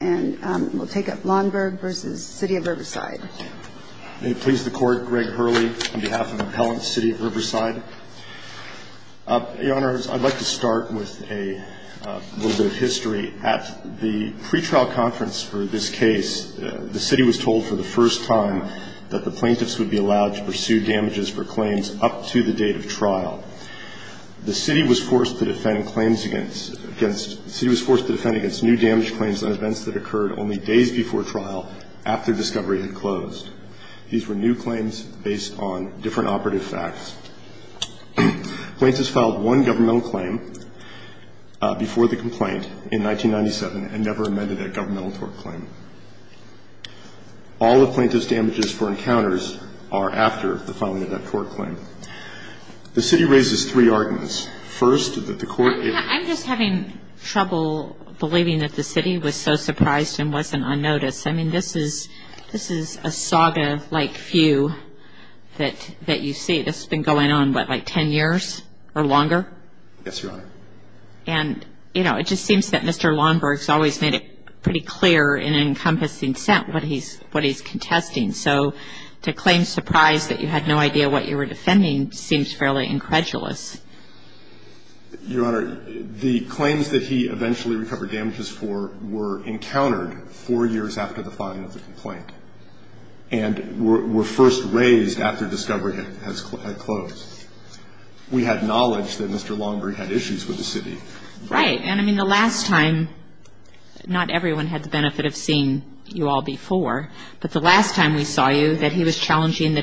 May it please the Court, Greg Hurley, on behalf of Appellant, City of Riverside. Your Honor, I'd like to start with a little bit of history. At the pretrial conference for this case, the City was told for the first time that the plaintiffs would be allowed to pursue damages for claims up to the date of trial. The City was forced to defend against new damage claims on events that occurred only days before trial after discovery had closed. These were new claims based on different operative facts. Plaintiffs filed one governmental claim before the complaint in 1997 and never amended that governmental tort claim. All the plaintiffs' damages for encounters are after the filing of that tort claim. The City raises three arguments. First, that the Court I'm just having trouble believing that the City was so surprised and wasn't unnoticed. I mean, this is a saga-like view that you see. This has been going on, what, like 10 years or longer? Yes, Your Honor. And, you know, it just seems that Mr. Lomberg's always made it pretty clear in an encompassing sense what he's contesting. So to claim surprise that you had no idea what you were defending seems fairly incredulous. Your Honor, the claims that he eventually recovered damages for were encountered four years after the filing of the complaint and were first raised after discovery had closed. We had knowledge that Mr. Lomberg had issues with the City. Right. And, I mean, the last time, not everyone had the benefit of seeing you all before, but the last time we saw you that he was challenging the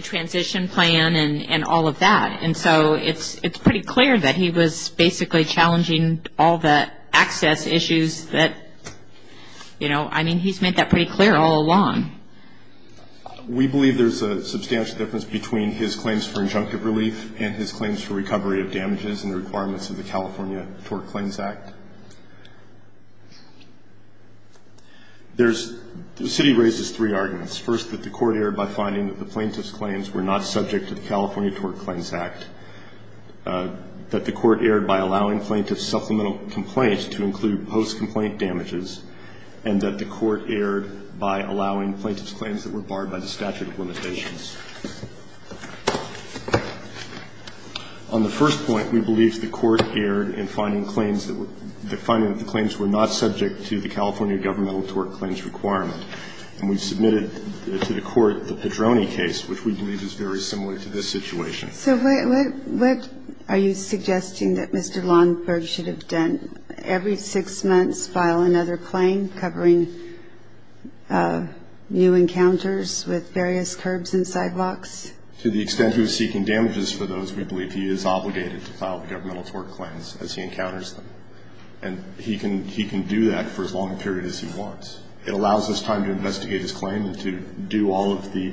transition plan and all of that. And so it's pretty clear that he was basically challenging all the access issues that, you know, I mean, he's made that pretty clear all along. We believe there's a substantial difference between his claims for injunctive relief and his claims for recovery of damages and the requirements of the California Tort Claims Act. There's – the City raises three arguments. First, that the Court erred by finding that the plaintiff's claims were not subject to the California Tort Claims Act, that the Court erred by allowing plaintiffs' supplemental complaints to include post-complaint damages, and that the Court erred by allowing plaintiffs' claims that were barred by the statute of limitations. On the first point, we believe the Court erred in finding claims that were – finding that the claims were not subject to the California governmental tort claims requirement. And we submitted to the Court the Pedroni case, which we believe is very similar to this situation. So what are you suggesting that Mr. Lomberg should have done? Every six months file another claim covering new encounters with various curbs and sidewalks? To the extent he was seeking damages for those, we believe he is obligated to file the governmental tort claims as he encounters them. And he can do that for as long a period as he wants. It allows us time to investigate his claim and to do all of the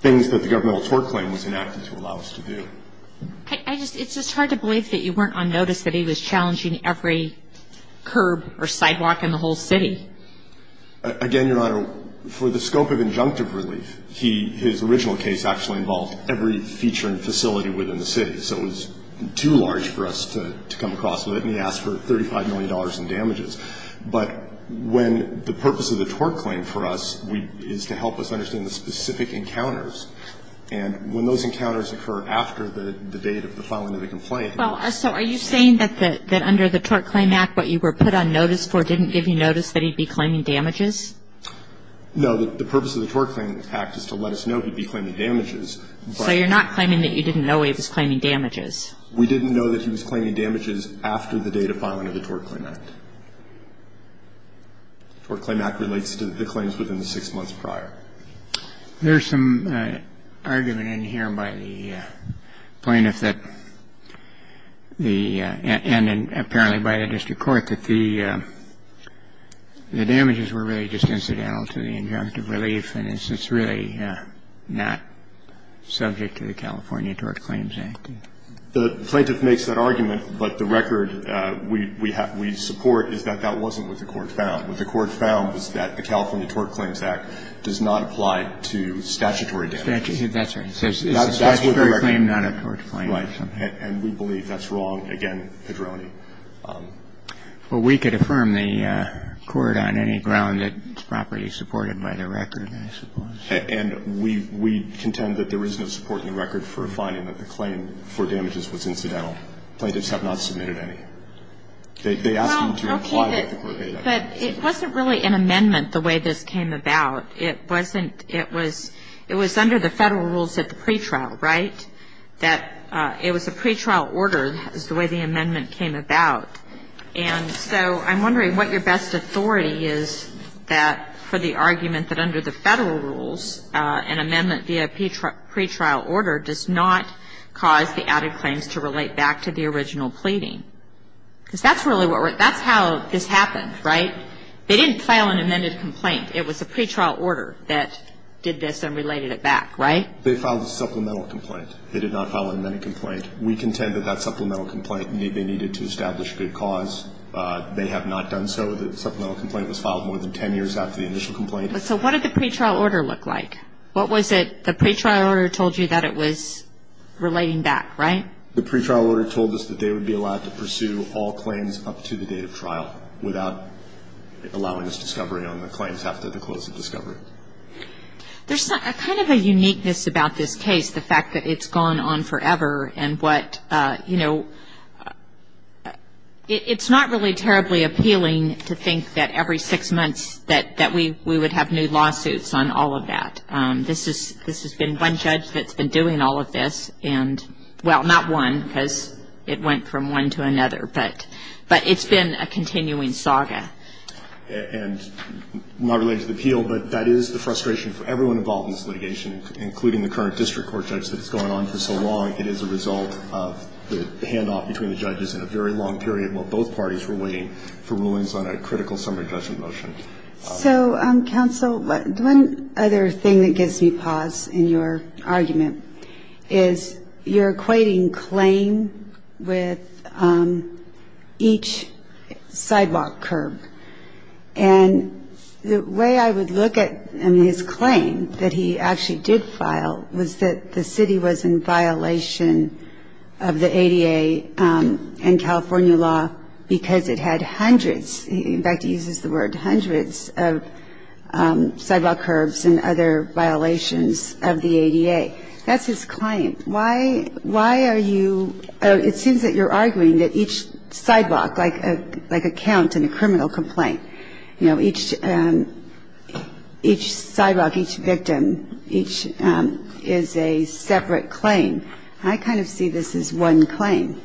things that the governmental tort claim was enacted to allow us to do. It's just hard to believe that you weren't on notice that he was challenging every curb or sidewalk in the whole city. Again, Your Honor, for the scope of injunctive relief, his original case actually involved every feature and facility within the city. So it was too large for us to come across with it, and he asked for $35 million in damages. But when the purpose of the tort claim for us is to help us understand the specific encounters, and when those encounters occur after the date of the filing of the complaint. Well, so are you saying that under the Tort Claim Act, what you were put on notice for didn't give you notice that he'd be claiming damages? No. The purpose of the Tort Claim Act is to let us know he'd be claiming damages. So you're not claiming that you didn't know he was claiming damages. We didn't know that he was claiming damages after the date of filing of the Tort Claim Act. The Tort Claim Act relates to the claims within the six months prior. There's some argument in here by the plaintiff that the — and apparently by the district court that the damages were really just incidental to the injunctive relief, and it's really not subject to the California Tort Claims Act. The plaintiff makes that argument, but the record we support is that that wasn't what the court found. What the court found was that the California Tort Claims Act does not apply to statutory damages. That's right. It says it's a statutory claim, not a tort claim. Right. And we believe that's wrong, again, Pedroni. Well, we could affirm the court on any ground that it's properly supported by the record, I suppose. And we contend that there is no support in the record for finding that the claim for damages was incidental. Plaintiffs have not submitted any. They ask them to comply with the court data. But it wasn't really an amendment the way this came about. It wasn't. It was under the Federal rules at the pretrial, right, that it was a pretrial order. That was the way the amendment came about. And so I'm wondering what your best authority is that — for the argument that under the Federal rules, an amendment via a pretrial order does not cause the added claims to relate back to the original pleading. Because that's really what we're — that's how this happened, right? They didn't file an amended complaint. It was a pretrial order that did this and related it back, right? They filed a supplemental complaint. They did not file an amended complaint. We contend that that supplemental complaint, they needed to establish a good cause. They have not done so. The supplemental complaint was filed more than 10 years after the initial complaint. So what did the pretrial order look like? What was it — the pretrial order told you that it was relating back, right? The pretrial order told us that they would be allowed to pursue all claims up to the date of trial without allowing us discovery on the claims after the close of discovery. There's kind of a uniqueness about this case, the fact that it's gone on forever and what, you know, it's not really terribly appealing to think that every six months that we would have new lawsuits on all of that. This has been one judge that's been doing all of this. And, well, not one because it went from one to another, but it's been a continuing saga. And not related to the appeal, but that is the frustration for everyone involved in this litigation, including the current district court judge that has gone on for so long. It is a result of the handoff between the judges in a very long period while both parties were waiting for rulings on a critical summary judgment motion. So, counsel, one other thing that gives me pause in your argument is you're equating claim with each sidewalk curb. And the way I would look at his claim that he actually did file was that the city was in violation of the ADA and California law because it had hundreds, in fact he uses the word, hundreds of sidewalk curbs and other violations of the ADA. That's his claim. Why are you, it seems that you're arguing that each sidewalk, like a count in a criminal complaint, you know, each sidewalk, each victim, each is a separate claim. I kind of see this as one claim.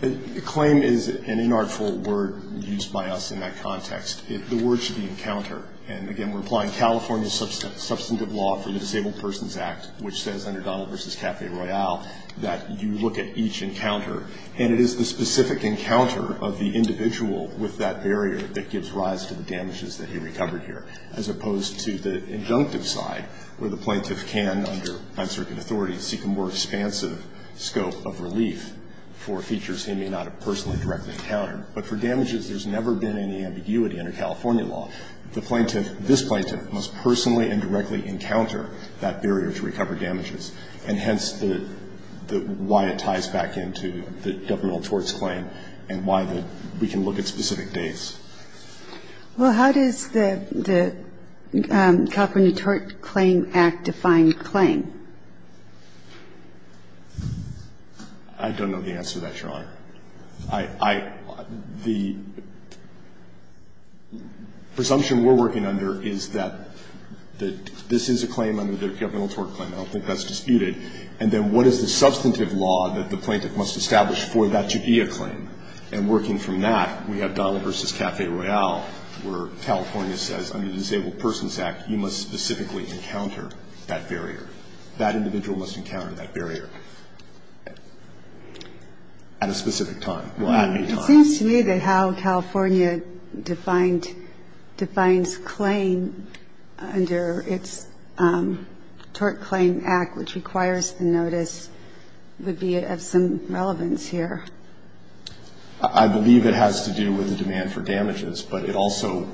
The claim is an inartful word used by us in that context. The word should be encounter. And, again, we're applying California substantive law for the Disabled Persons Act, which says under Donald v. Cafe Royale that you look at each encounter. And it is the specific encounter of the individual with that barrier that gives rise to the damages that he recovered here, as opposed to the injunctive side, where the plaintiff can, under non-circuit authority, seek a more expansive scope of relief for features he may not have personally directly encountered. But for damages, there's never been any ambiguity under California law. The plaintiff, this plaintiff, must personally and directly encounter that barrier to recover damages, and hence why it ties back into the governmental torts claim and why we can look at specific dates. Well, how does the California Tort Claim Act define claim? I don't know the answer to that, Your Honor. I, I, the presumption we're working under is that this is a claim under the governmental tort claim. I don't think that's disputed. And then what is the substantive law that the plaintiff must establish for that to be a claim? And working from that, we have Donald v. Cafe Royale, where California says, under the Disabled Persons Act, you must specifically encounter that barrier. That individual must encounter that barrier at a specific time. Well, at any time. It seems to me that how California defined, defines claim under its Tort Claim Act, which requires the notice, would be of some relevance here. I believe it has to do with the demand for damages, but it also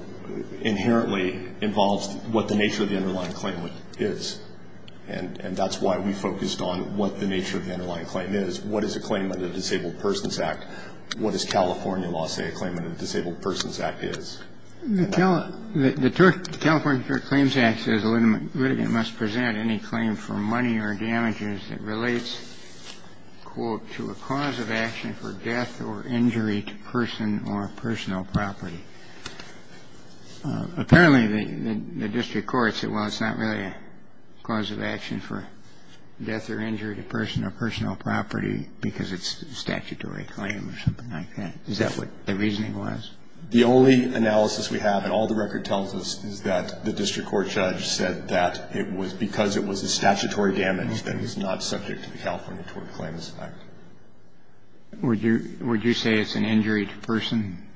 inherently involves what the nature of the underlying claim is. And that's why we focused on what the nature of the underlying claim is. What is a claim under the Disabled Persons Act? What does California law say a claim under the Disabled Persons Act is? The California Tort Claims Act says a litigant must present any claim for money or damages that relates, quote, to a cause of action for death or injury to person or personal property. Apparently, the district court said, well, it's not really a cause of action for death or injury to person or personal property because it's a statutory claim or something like that. Is that what the reasoning was? The only analysis we have, and all the record tells us, is that the district court judge said that it was because it was a statutory damage that it was not subject to the California Tort Claims Act. Would you say it's an injury to person?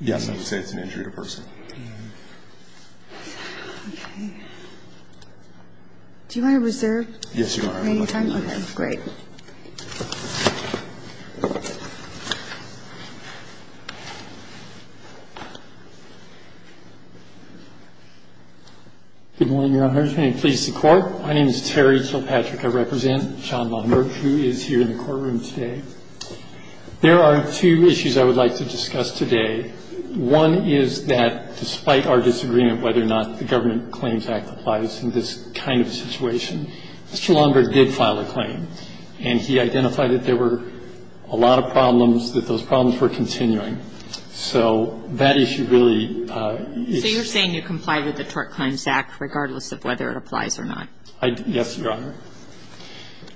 Yes, I would say it's an injury to person. Okay. Do you want to reserve? Yes, Your Honor. Any time? Okay, great. Good morning, Your Honors. May it please the Court. My name is Terry Kilpatrick. I represent John Longberg, who is here in the courtroom today. There are two issues I would like to discuss today. One is that despite our disagreement whether or not the Government Claims Act applies in this kind of situation, Mr. Longberg did file a claim. And he identified that there were a lot of problems, that those problems were continuing. So that issue really is the issue. So you're saying you comply with the Tort Claims Act regardless of whether it applies or not? Yes, Your Honor.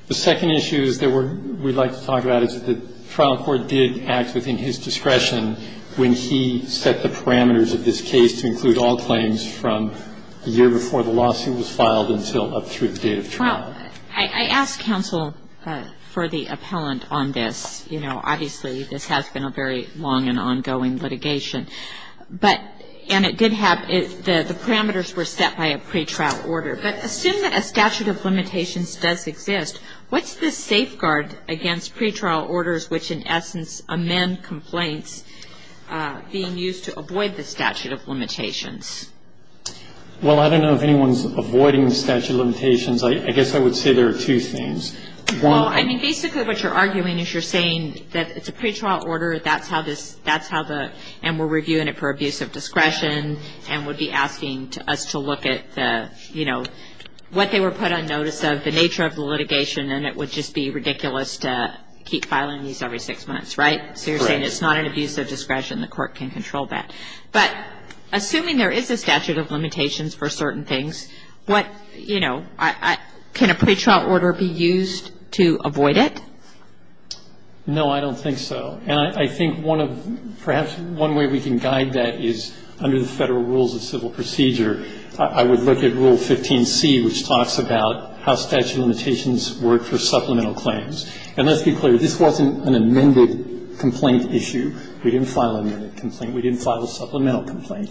The second issue is that we would like to talk about is that the trial court did act within his discretion when he set the parameters of this case to include all claims Well, I asked counsel for the appellant on this. You know, obviously this has been a very long and ongoing litigation. But, and it did have, the parameters were set by a pretrial order. But assume that a statute of limitations does exist, what's the safeguard against pretrial orders which in essence amend complaints being used to avoid the statute of limitations? Well, I don't know if anyone's avoiding the statute of limitations. I guess I would say there are two things. Well, I mean, basically what you're arguing is you're saying that it's a pretrial order, that's how this, that's how the, and we're reviewing it for abuse of discretion and would be asking us to look at the, you know, what they were put on notice of, the nature of the litigation, and it would just be ridiculous to keep filing these every six months, right? Correct. So you're saying it's not an abuse of discretion, the court can control that. But assuming there is a statute of limitations for certain things, what, you know, can a pretrial order be used to avoid it? No, I don't think so. And I think one of, perhaps one way we can guide that is under the Federal Rules of Civil Procedure, I would look at Rule 15C, which talks about how statute of limitations work for supplemental claims. And let's be clear, this wasn't an amended complaint issue. We didn't file an amended complaint. We didn't file a supplemental complaint.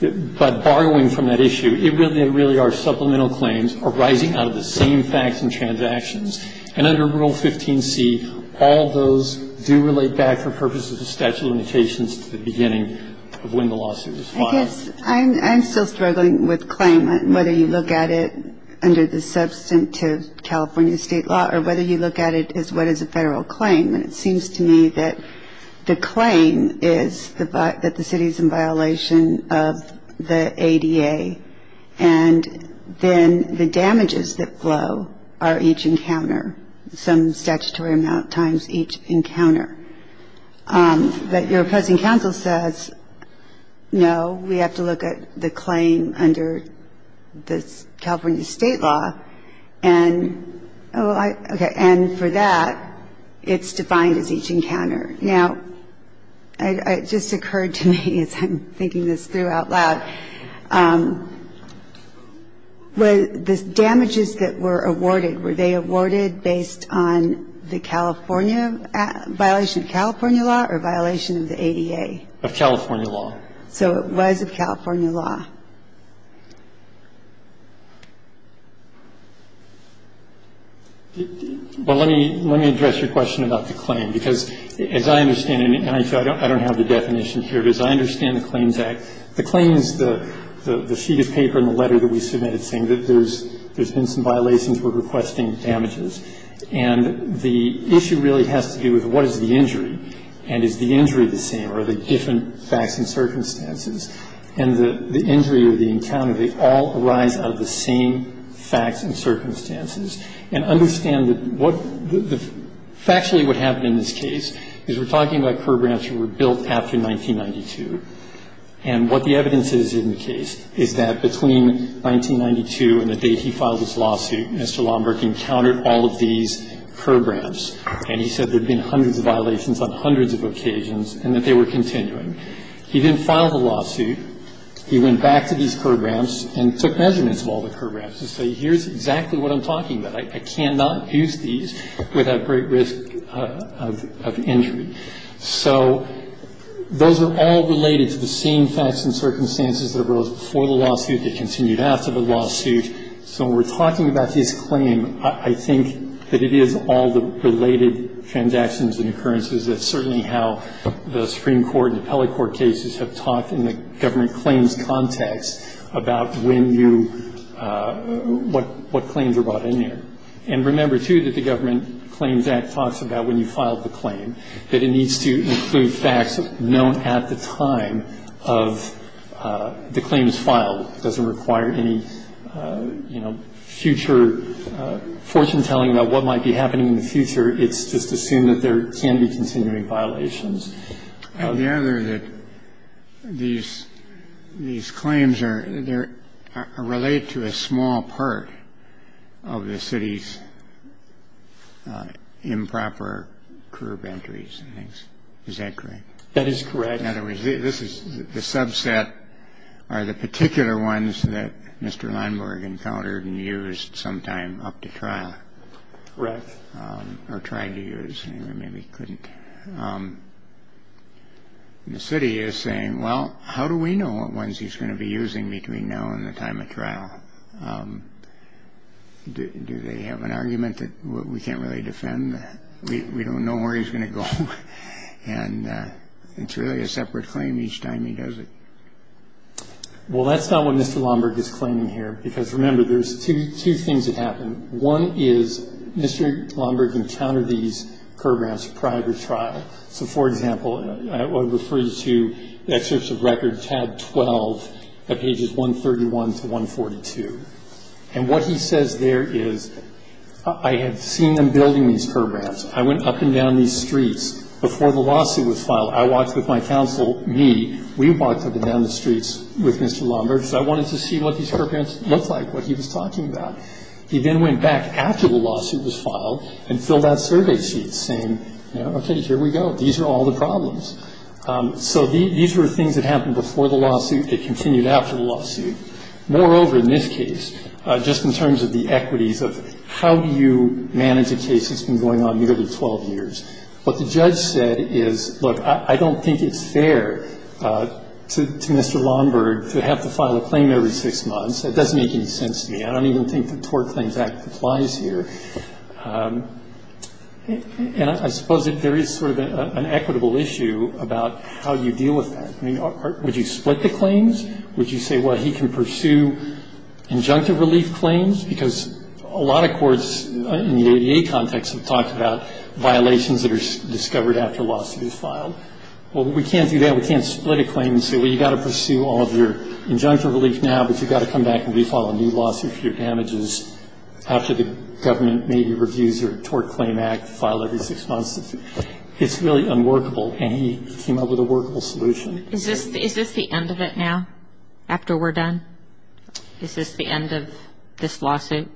But borrowing from that issue, it really are supplemental claims arising out of the same facts and transactions. And under Rule 15C, all those do relate back for purposes of statute of limitations to the beginning of when the lawsuit was filed. I guess I'm still struggling with claim, whether you look at it under the substantive California State law or whether you look at it as what is a Federal claim. And it seems to me that the claim is that the city is in violation of the ADA. And then the damages that flow are each encounter, some statutory amount times each encounter. But your opposing counsel says, no, we have to look at the claim under the California State law. And for that, it's defined as each encounter. Now, it just occurred to me as I'm thinking this through out loud, the damages that were awarded, were they awarded based on the California violation of California law or violation of the ADA? Of California law. So it was of California law. Well, let me address your question about the claim, because as I understand it, and I don't have the definition here, but as I understand the Claims Act, the claims, the sheet of paper and the letter that we submitted saying that there's been some violations, we're requesting damages. And the issue really has to do with what is the injury, and is the injury the same or are they different facts and circumstances? And the injury or the encounter, they all arise out of the same facts and circumstances. And understand that what the factually what happened in this case is we're talking about programs that were built after 1992. And what the evidence is in the case is that between 1992 and the date he filed this lawsuit, Mr. Lomberg encountered all of these programs. And he said there had been hundreds of violations on hundreds of occasions and that they were continuing. He didn't file the lawsuit. He went back to these programs and took measurements of all the programs and said here's exactly what I'm talking about. I cannot use these without great risk of injury. So those are all related to the same facts and circumstances that arose before the lawsuit, that continued after the lawsuit. So when we're talking about this claim, I think that it is all the related transactions and occurrences that certainly how the Supreme Court and the appellate court cases have talked in the government claims context about when you, what claims are brought in here. And remember, too, that the Government Claims Act talks about when you filed the claim, that it needs to include facts known at the time of the claims filed. It doesn't require any, you know, future fortune-telling about what might be happening in the future. It's just assumed that there can be continuing violations. And the other that these claims are, they're related to a small part of the city's improper curb entries and things. Is that correct? That is correct. In other words, this is, the subset are the particular ones that Mr. Leinborg and Calderdon used sometime up to trial. Correct. Or tried to use, maybe couldn't. The city is saying, well, how do we know what ones he's going to be using between now and the time of trial? Do they have an argument that we can't really defend? We don't know where he's going to go. And it's really a separate claim each time he does it. Well, that's not what Mr. Leinborg is claiming here. Because remember, there's two things that happen. One is Mr. Leinborg encountered these curb ramps prior to trial. So, for example, I would refer you to the excerpts of record tab 12 of pages 131 to 142. And what he says there is, I have seen them building these curb ramps. I went up and down these streets before the lawsuit was filed. I walked with my counsel, me, we walked up and down the streets with Mr. Leinborg because I wanted to see what these curb ramps looked like, what he was talking about. He then went back after the lawsuit was filed and filled out survey sheets saying, you know, okay, here we go. These are all the problems. So these were things that happened before the lawsuit. They continued after the lawsuit. Moreover, in this case, just in terms of the equities of how do you manage a case that's been going on nearly 12 years, what the judge said is, look, I don't think it's fair to Mr. Leinborg to have to file a claim every six months. That doesn't make any sense to me. I don't even think the Tort Claims Act applies here. And I suppose there is sort of an equitable issue about how you deal with that. I mean, would you split the claims? Would you say, well, he can pursue injunctive relief claims because a lot of courts in the ADA context have talked about violations that are discovered after a lawsuit is filed. Well, we can't do that. We can't split a claim and say, well, you've got to pursue all of your injunctive relief now, but you've got to come back and refile a new lawsuit for your damages after the government maybe reviews your Tort Claim Act, file every six months. It's really unworkable, and he came up with a workable solution. Is this the end of it now, after we're done? Is this the end of this lawsuit?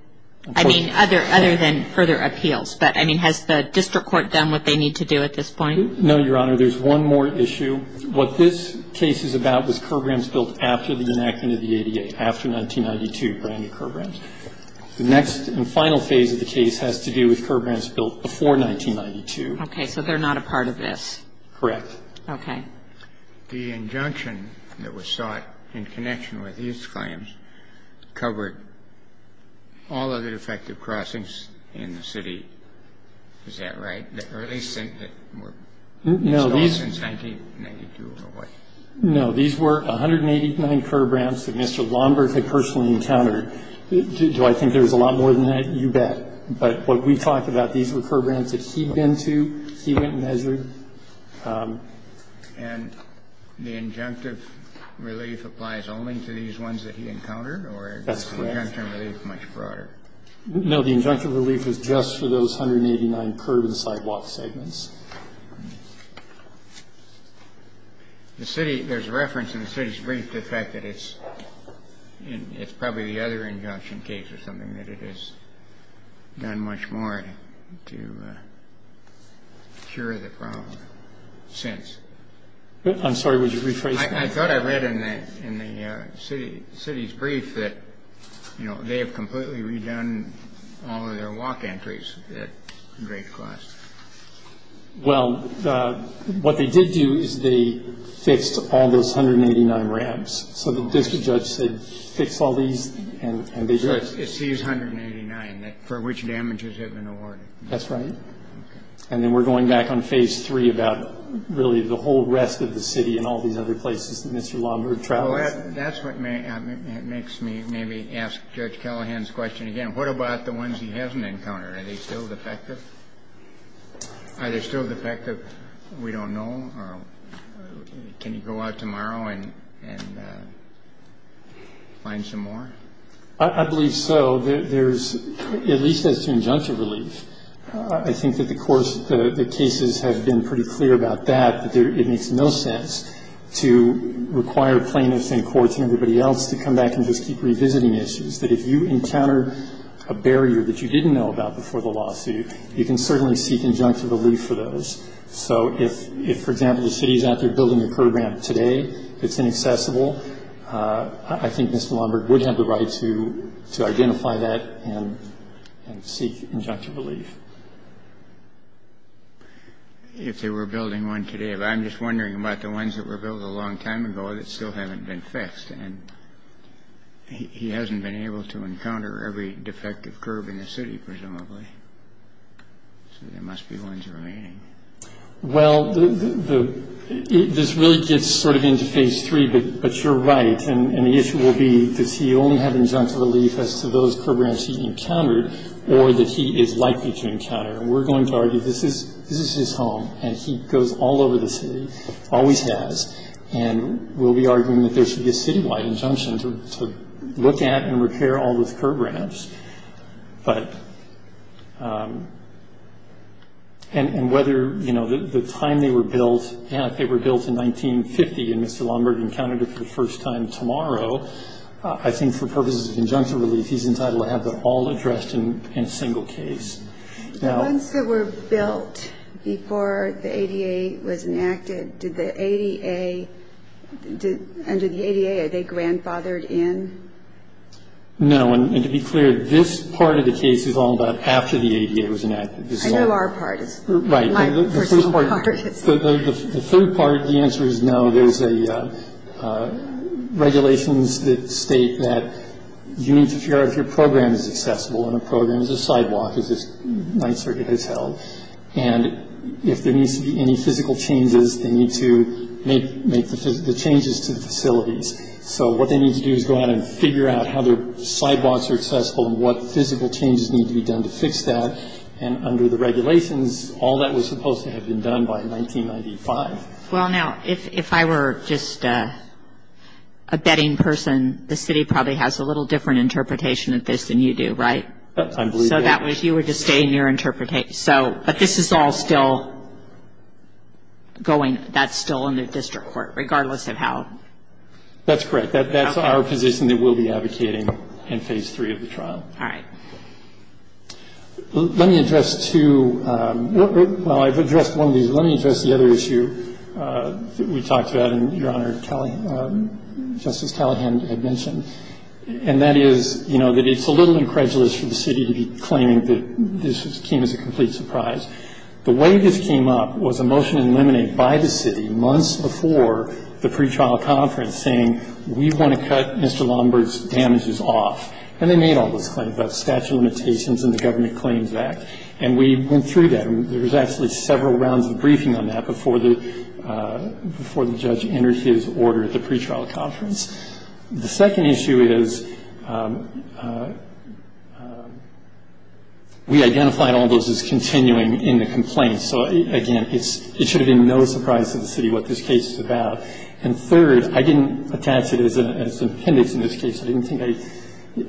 I mean, other than further appeals. But, I mean, has the district court done what they need to do at this point? No, Your Honor. There's one more issue. What this case is about was curb ramps built after the enactment of the ADA, after 1992, brand-new curb ramps. The next and final phase of the case has to do with curb ramps built before 1992. Okay. So they're not a part of this. Correct. Okay. The injunction that was sought in connection with these claims covered all other defective crossings in the city. Is that right? No. These were 189 curb ramps that Mr. Lomberg had personally encountered. Do I think there was a lot more than that? You bet. But what we talked about, these were curb ramps that he'd been to, he went and measured. And the injunctive relief applies only to these ones that he encountered? That's correct. Or is the injunctive relief much broader? I'm not aware of that. As far as the brief that's in the walk segments? There's a reference in the city's brief to the fact that it's probably the other injunction case or something that it has done much more to cure the problem since. I'm sorry. Would you rephrase that? I thought I read in the city's brief that, you know, they have completely redone all of their walk entries at great cost. Well, what they did do is they fixed all those 189 ramps. So the district judge said fix all these and they did. So it's these 189 for which damages have been awarded. That's right. Okay. And then we're going back on phase three about really the whole rest of the city and all these other places that Mr. Lombard travels. That's what makes me maybe ask Judge Callahan's question again. What about the ones he hasn't encountered? Are they still defective? Are they still defective? We don't know. Can you go out tomorrow and find some more? I believe so. At least as to injunction relief. I think that the courts, the cases have been pretty clear about that. But it makes no sense to require plaintiffs and courts and everybody else to come back and just keep revisiting issues. That if you encounter a barrier that you didn't know about before the lawsuit, you can certainly seek injunction relief for those. So if, for example, the city is out there building a program today that's inaccessible, I think Mr. Lombard would have the right to identify that and seek injunction relief. If they were building one today. But I'm just wondering about the ones that were built a long time ago that still haven't been fixed. And he hasn't been able to encounter every defective curb in the city, presumably. So there must be ones remaining. Well, this really gets sort of into phase three. But you're right. And the issue will be does he only have injunction relief as to those curb ramps he encountered, or that he is likely to encounter. And we're going to argue this is his home, and he goes all over the city, always has. And we'll be arguing that there should be a citywide injunction to look at and repair all those curb ramps. And whether the time they were built, and if they were built in 1950 and Mr. Lombard encountered it for the first time tomorrow, I think for purposes of injunction relief he's entitled to have them all addressed in a single case. The ones that were built before the ADA was enacted, under the ADA, are they grandfathered in? No. And to be clear, this part of the case is all about after the ADA was enacted. I know our part. Right. The third part, the answer is no. There's regulations that state that you need to figure out if your program is accessible. And a program is a sidewalk, as this Ninth Circuit has held. And if there needs to be any physical changes, they need to make the changes to the facilities. So what they need to do is go out and figure out how their sidewalks are accessible and what physical changes need to be done to fix that. And under the regulations, all that was supposed to have been done by 1995. Well, now, if I were just a betting person, the city probably has a little different interpretation of this than you do, right? I believe they do. So you would just stay in your interpretation. So, but this is all still going, that's still in the district court, regardless of how. That's correct. That's our position that we'll be advocating in Phase 3 of the trial. All right. Let me address two, well, I've addressed one of these. Let me address the other issue that we talked about and Your Honor, Justice Callahan had mentioned. And that is, you know, that it's a little incredulous for the city to be claiming that this came as a complete surprise. The way this came up was a motion in Lemonade by the city months before the pretrial conference saying we want to cut Mr. Lombard's damages off. And they made all those claims about statute of limitations and the Government Claims Act. And we went through that. There was actually several rounds of briefing on that before the judge entered his order at the pretrial conference. The second issue is we identified all those as continuing in the complaints. So, again, it should have been no surprise to the city what this case is about. And third, I didn't attach it as an appendix in this case. I didn't think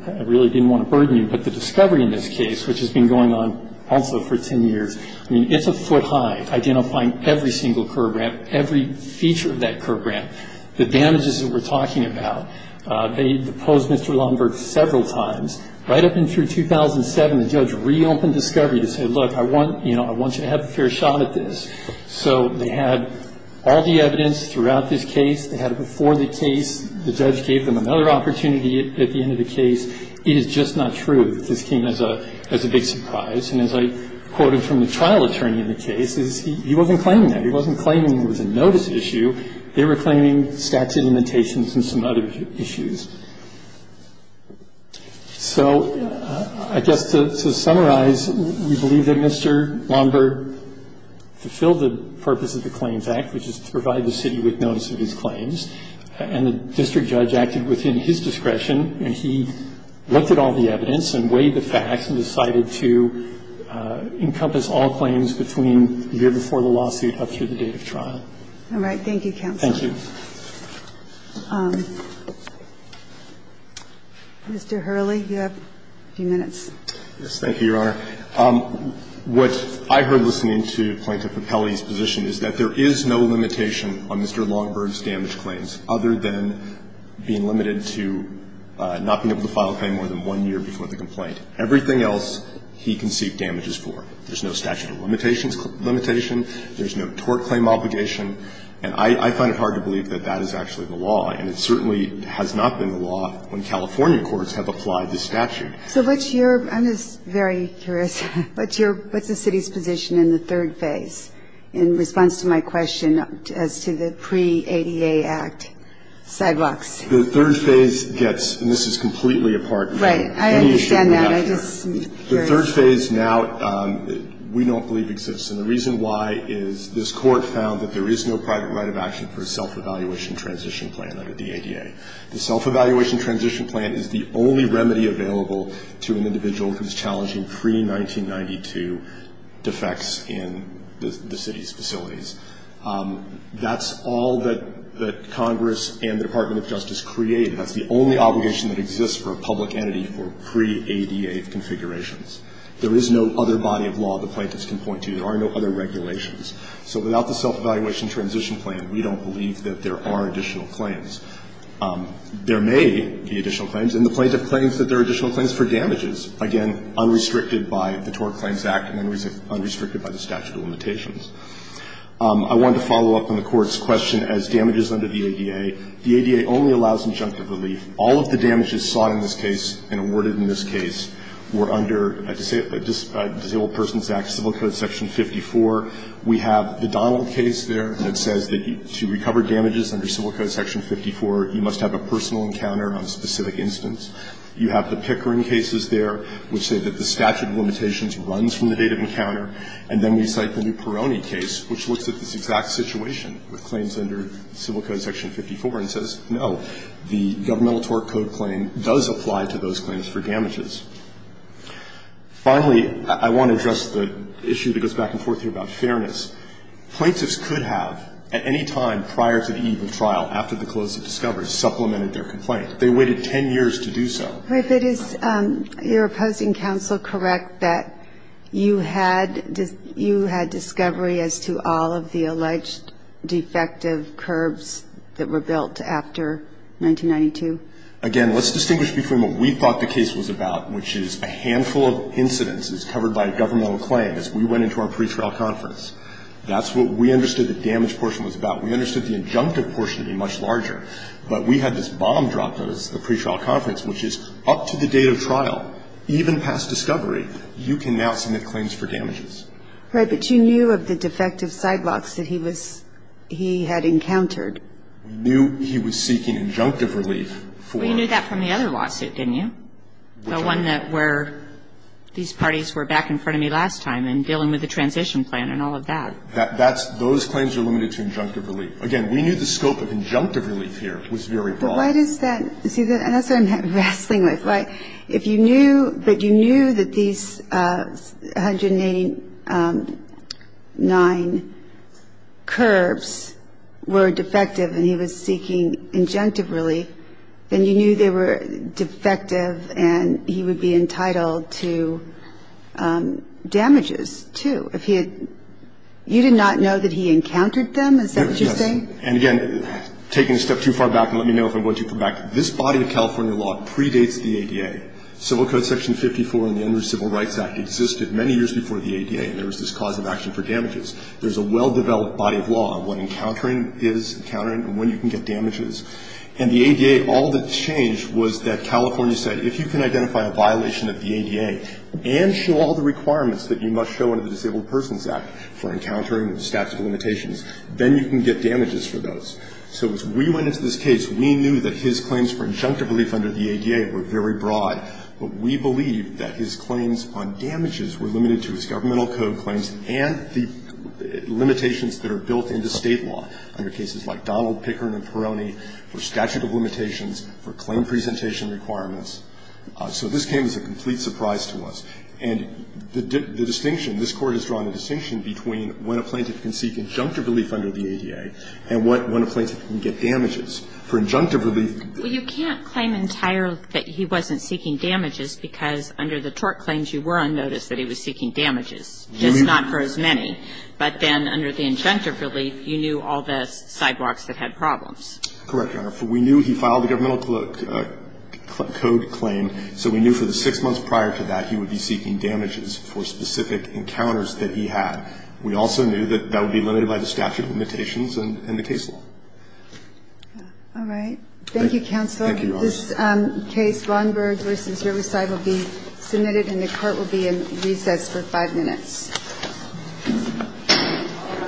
I really didn't want to burden you. But the discovery in this case, which has been going on also for 10 years, I mean, it's a foot high, identifying every single curb ramp, every feature of that curb ramp. The damages that we're talking about, they deposed Mr. Lombard several times. Right up until 2007, the judge reopened discovery to say, look, I want you to have a fair shot at this. So they had all the evidence throughout this case. They had it before the case. The judge gave them another opportunity at the end of the case. It is just not true that this came as a big surprise. And as I quoted from the trial attorney in the case, he wasn't claiming that. He wasn't claiming it was a notice issue. They were claiming statute limitations and some other issues. So I guess to summarize, we believe that Mr. Lombard fulfilled the purpose of the Claims Act, which is to provide the city with notice of his claims. And the district judge acted within his discretion, and he looked at all the evidence and weighed the facts and decided to encompass all claims between the year before the lawsuit up through the date of trial. All right. Thank you, counsel. Thank you. Mr. Hurley, you have a few minutes. Yes. Thank you, Your Honor. What I heard listening to Plaintiff Capelli's position is that there is no limitation on Mr. Lombard's damage claims other than being limited to not being able to file a claim more than one year before the complaint. Everything else he conceived damage is for. There's no statute of limitations limitation. There's no tort claim obligation. And I find it hard to believe that that is actually the law. And it certainly has not been the law when California courts have applied the statute. So what's your – I'm just very curious. What's your – what's the city's position in the third phase in response to my question as to the pre-ADA Act sidewalks? The third phase gets – and this is completely apart from any issue we have here. Right. I understand that. I'm just curious. The third phase now we don't believe exists. And the reason why is this Court found that there is no private right of action for a self-evaluation transition plan under the ADA. The self-evaluation transition plan is the only remedy available to an individual who's challenging pre-1992 defects in the city's facilities. That's all that Congress and the Department of Justice created. That's the only obligation that exists for a public entity for pre-ADA configurations. There is no other body of law the plaintiffs can point to. There are no other regulations. So without the self-evaluation transition plan, we don't believe that there are additional claims. There may be additional claims, and the plaintiff claims that there are additional claims for damages, again, unrestricted by the Tort Claims Act and unrestricted by the statute of limitations. I wanted to follow up on the Court's question as damages under the ADA. The ADA only allows injunctive relief. All of the damages sought in this case and awarded in this case were under Disabled Persons Act, Civil Code Section 54. We have the Donnell case there that says that to recover damages under Civil Code Section 54, you must have a personal encounter on a specific instance. You have the Pickering cases there, which say that the statute of limitations runs from the date of encounter. And then we cite the New Peroni case, which looks at this exact situation with claims under Civil Code Section 54 and says, no, the governmental tort code claim does apply to those claims for damages. Finally, I want to address the issue that goes back and forth here about fairness. Plaintiffs could have, at any time prior to the eve of trial, after the close of discovery, supplemented their complaint. They waited 10 years to do so. If it is your opposing counsel correct that you had discovery as to all of the alleged defective curbs that were built after 1992? Again, let's distinguish between what we thought the case was about, which is a handful of incidences covered by a governmental claim as we went into our pretrial conference. That's what we understood the damage portion was about. We understood the injunctive portion to be much larger. But we had this bomb dropped on us at the pretrial conference, which is up to the date of trial, even past discovery, you can now submit claims for damages. Right. But you knew of the defective sidewalks that he was he had encountered. We knew he was seeking injunctive relief for. Well, you knew that from the other lawsuit, didn't you? Which one? The one that where these parties were back in front of me last time and dealing with the transition plan and all of that. That's those claims are limited to injunctive relief. Again, we knew the scope of injunctive relief here was very broad. But why does that? See, that's what I'm wrestling with. If you knew that you knew that these 189 curbs were defective and he was seeking injunctive relief, then you knew they were defective and he would be entitled to damages, too. If he had you did not know that he encountered them? Is that what you're saying? Yes. And, again, taking a step too far back, and let me know if I'm going too far back, this body of California law predates the ADA. Civil Code Section 54 and the Under Civil Rights Act existed many years before the ADA, and there was this cause of action for damages. There's a well-developed body of law on what encountering is, encountering and when you can get damages. And the ADA, all that changed was that California said if you can identify a violation of the ADA and show all the requirements that you must show under the Disabled Persons Act for encountering the statute of limitations, then you can get damages for those. So as we went into this case, we knew that his claims for injunctive relief under the ADA were very broad, but we believed that his claims on damages were limited to his governmental code claims and the limitations that are built into State law under cases like Donald Pickering and Perroni for statute of limitations, for claim presentation requirements. So this came as a complete surprise to us. And the distinction, this Court has drawn a distinction between when a plaintiff can seek injunctive relief under the ADA and when a plaintiff can get damages. For injunctive relief you can't claim entirely that he wasn't seeking damages because under the tort claims you were on notice that he was seeking damages, just not for as many. But then under the injunctive relief, you knew all the sidewalks that had problems. Correct, Your Honor. We knew he filed a governmental code claim, so we knew for the six months prior to that he would be seeking damages for specific encounters that he had. We also knew that that would be limited by the statute of limitations and the case law. All right. Thank you, Counselor. Thank you, Your Honor. This case, Von Berg v. Riverside, will be submitted and the Court will be in recess for five minutes. All rise.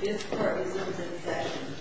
This Court is in recess.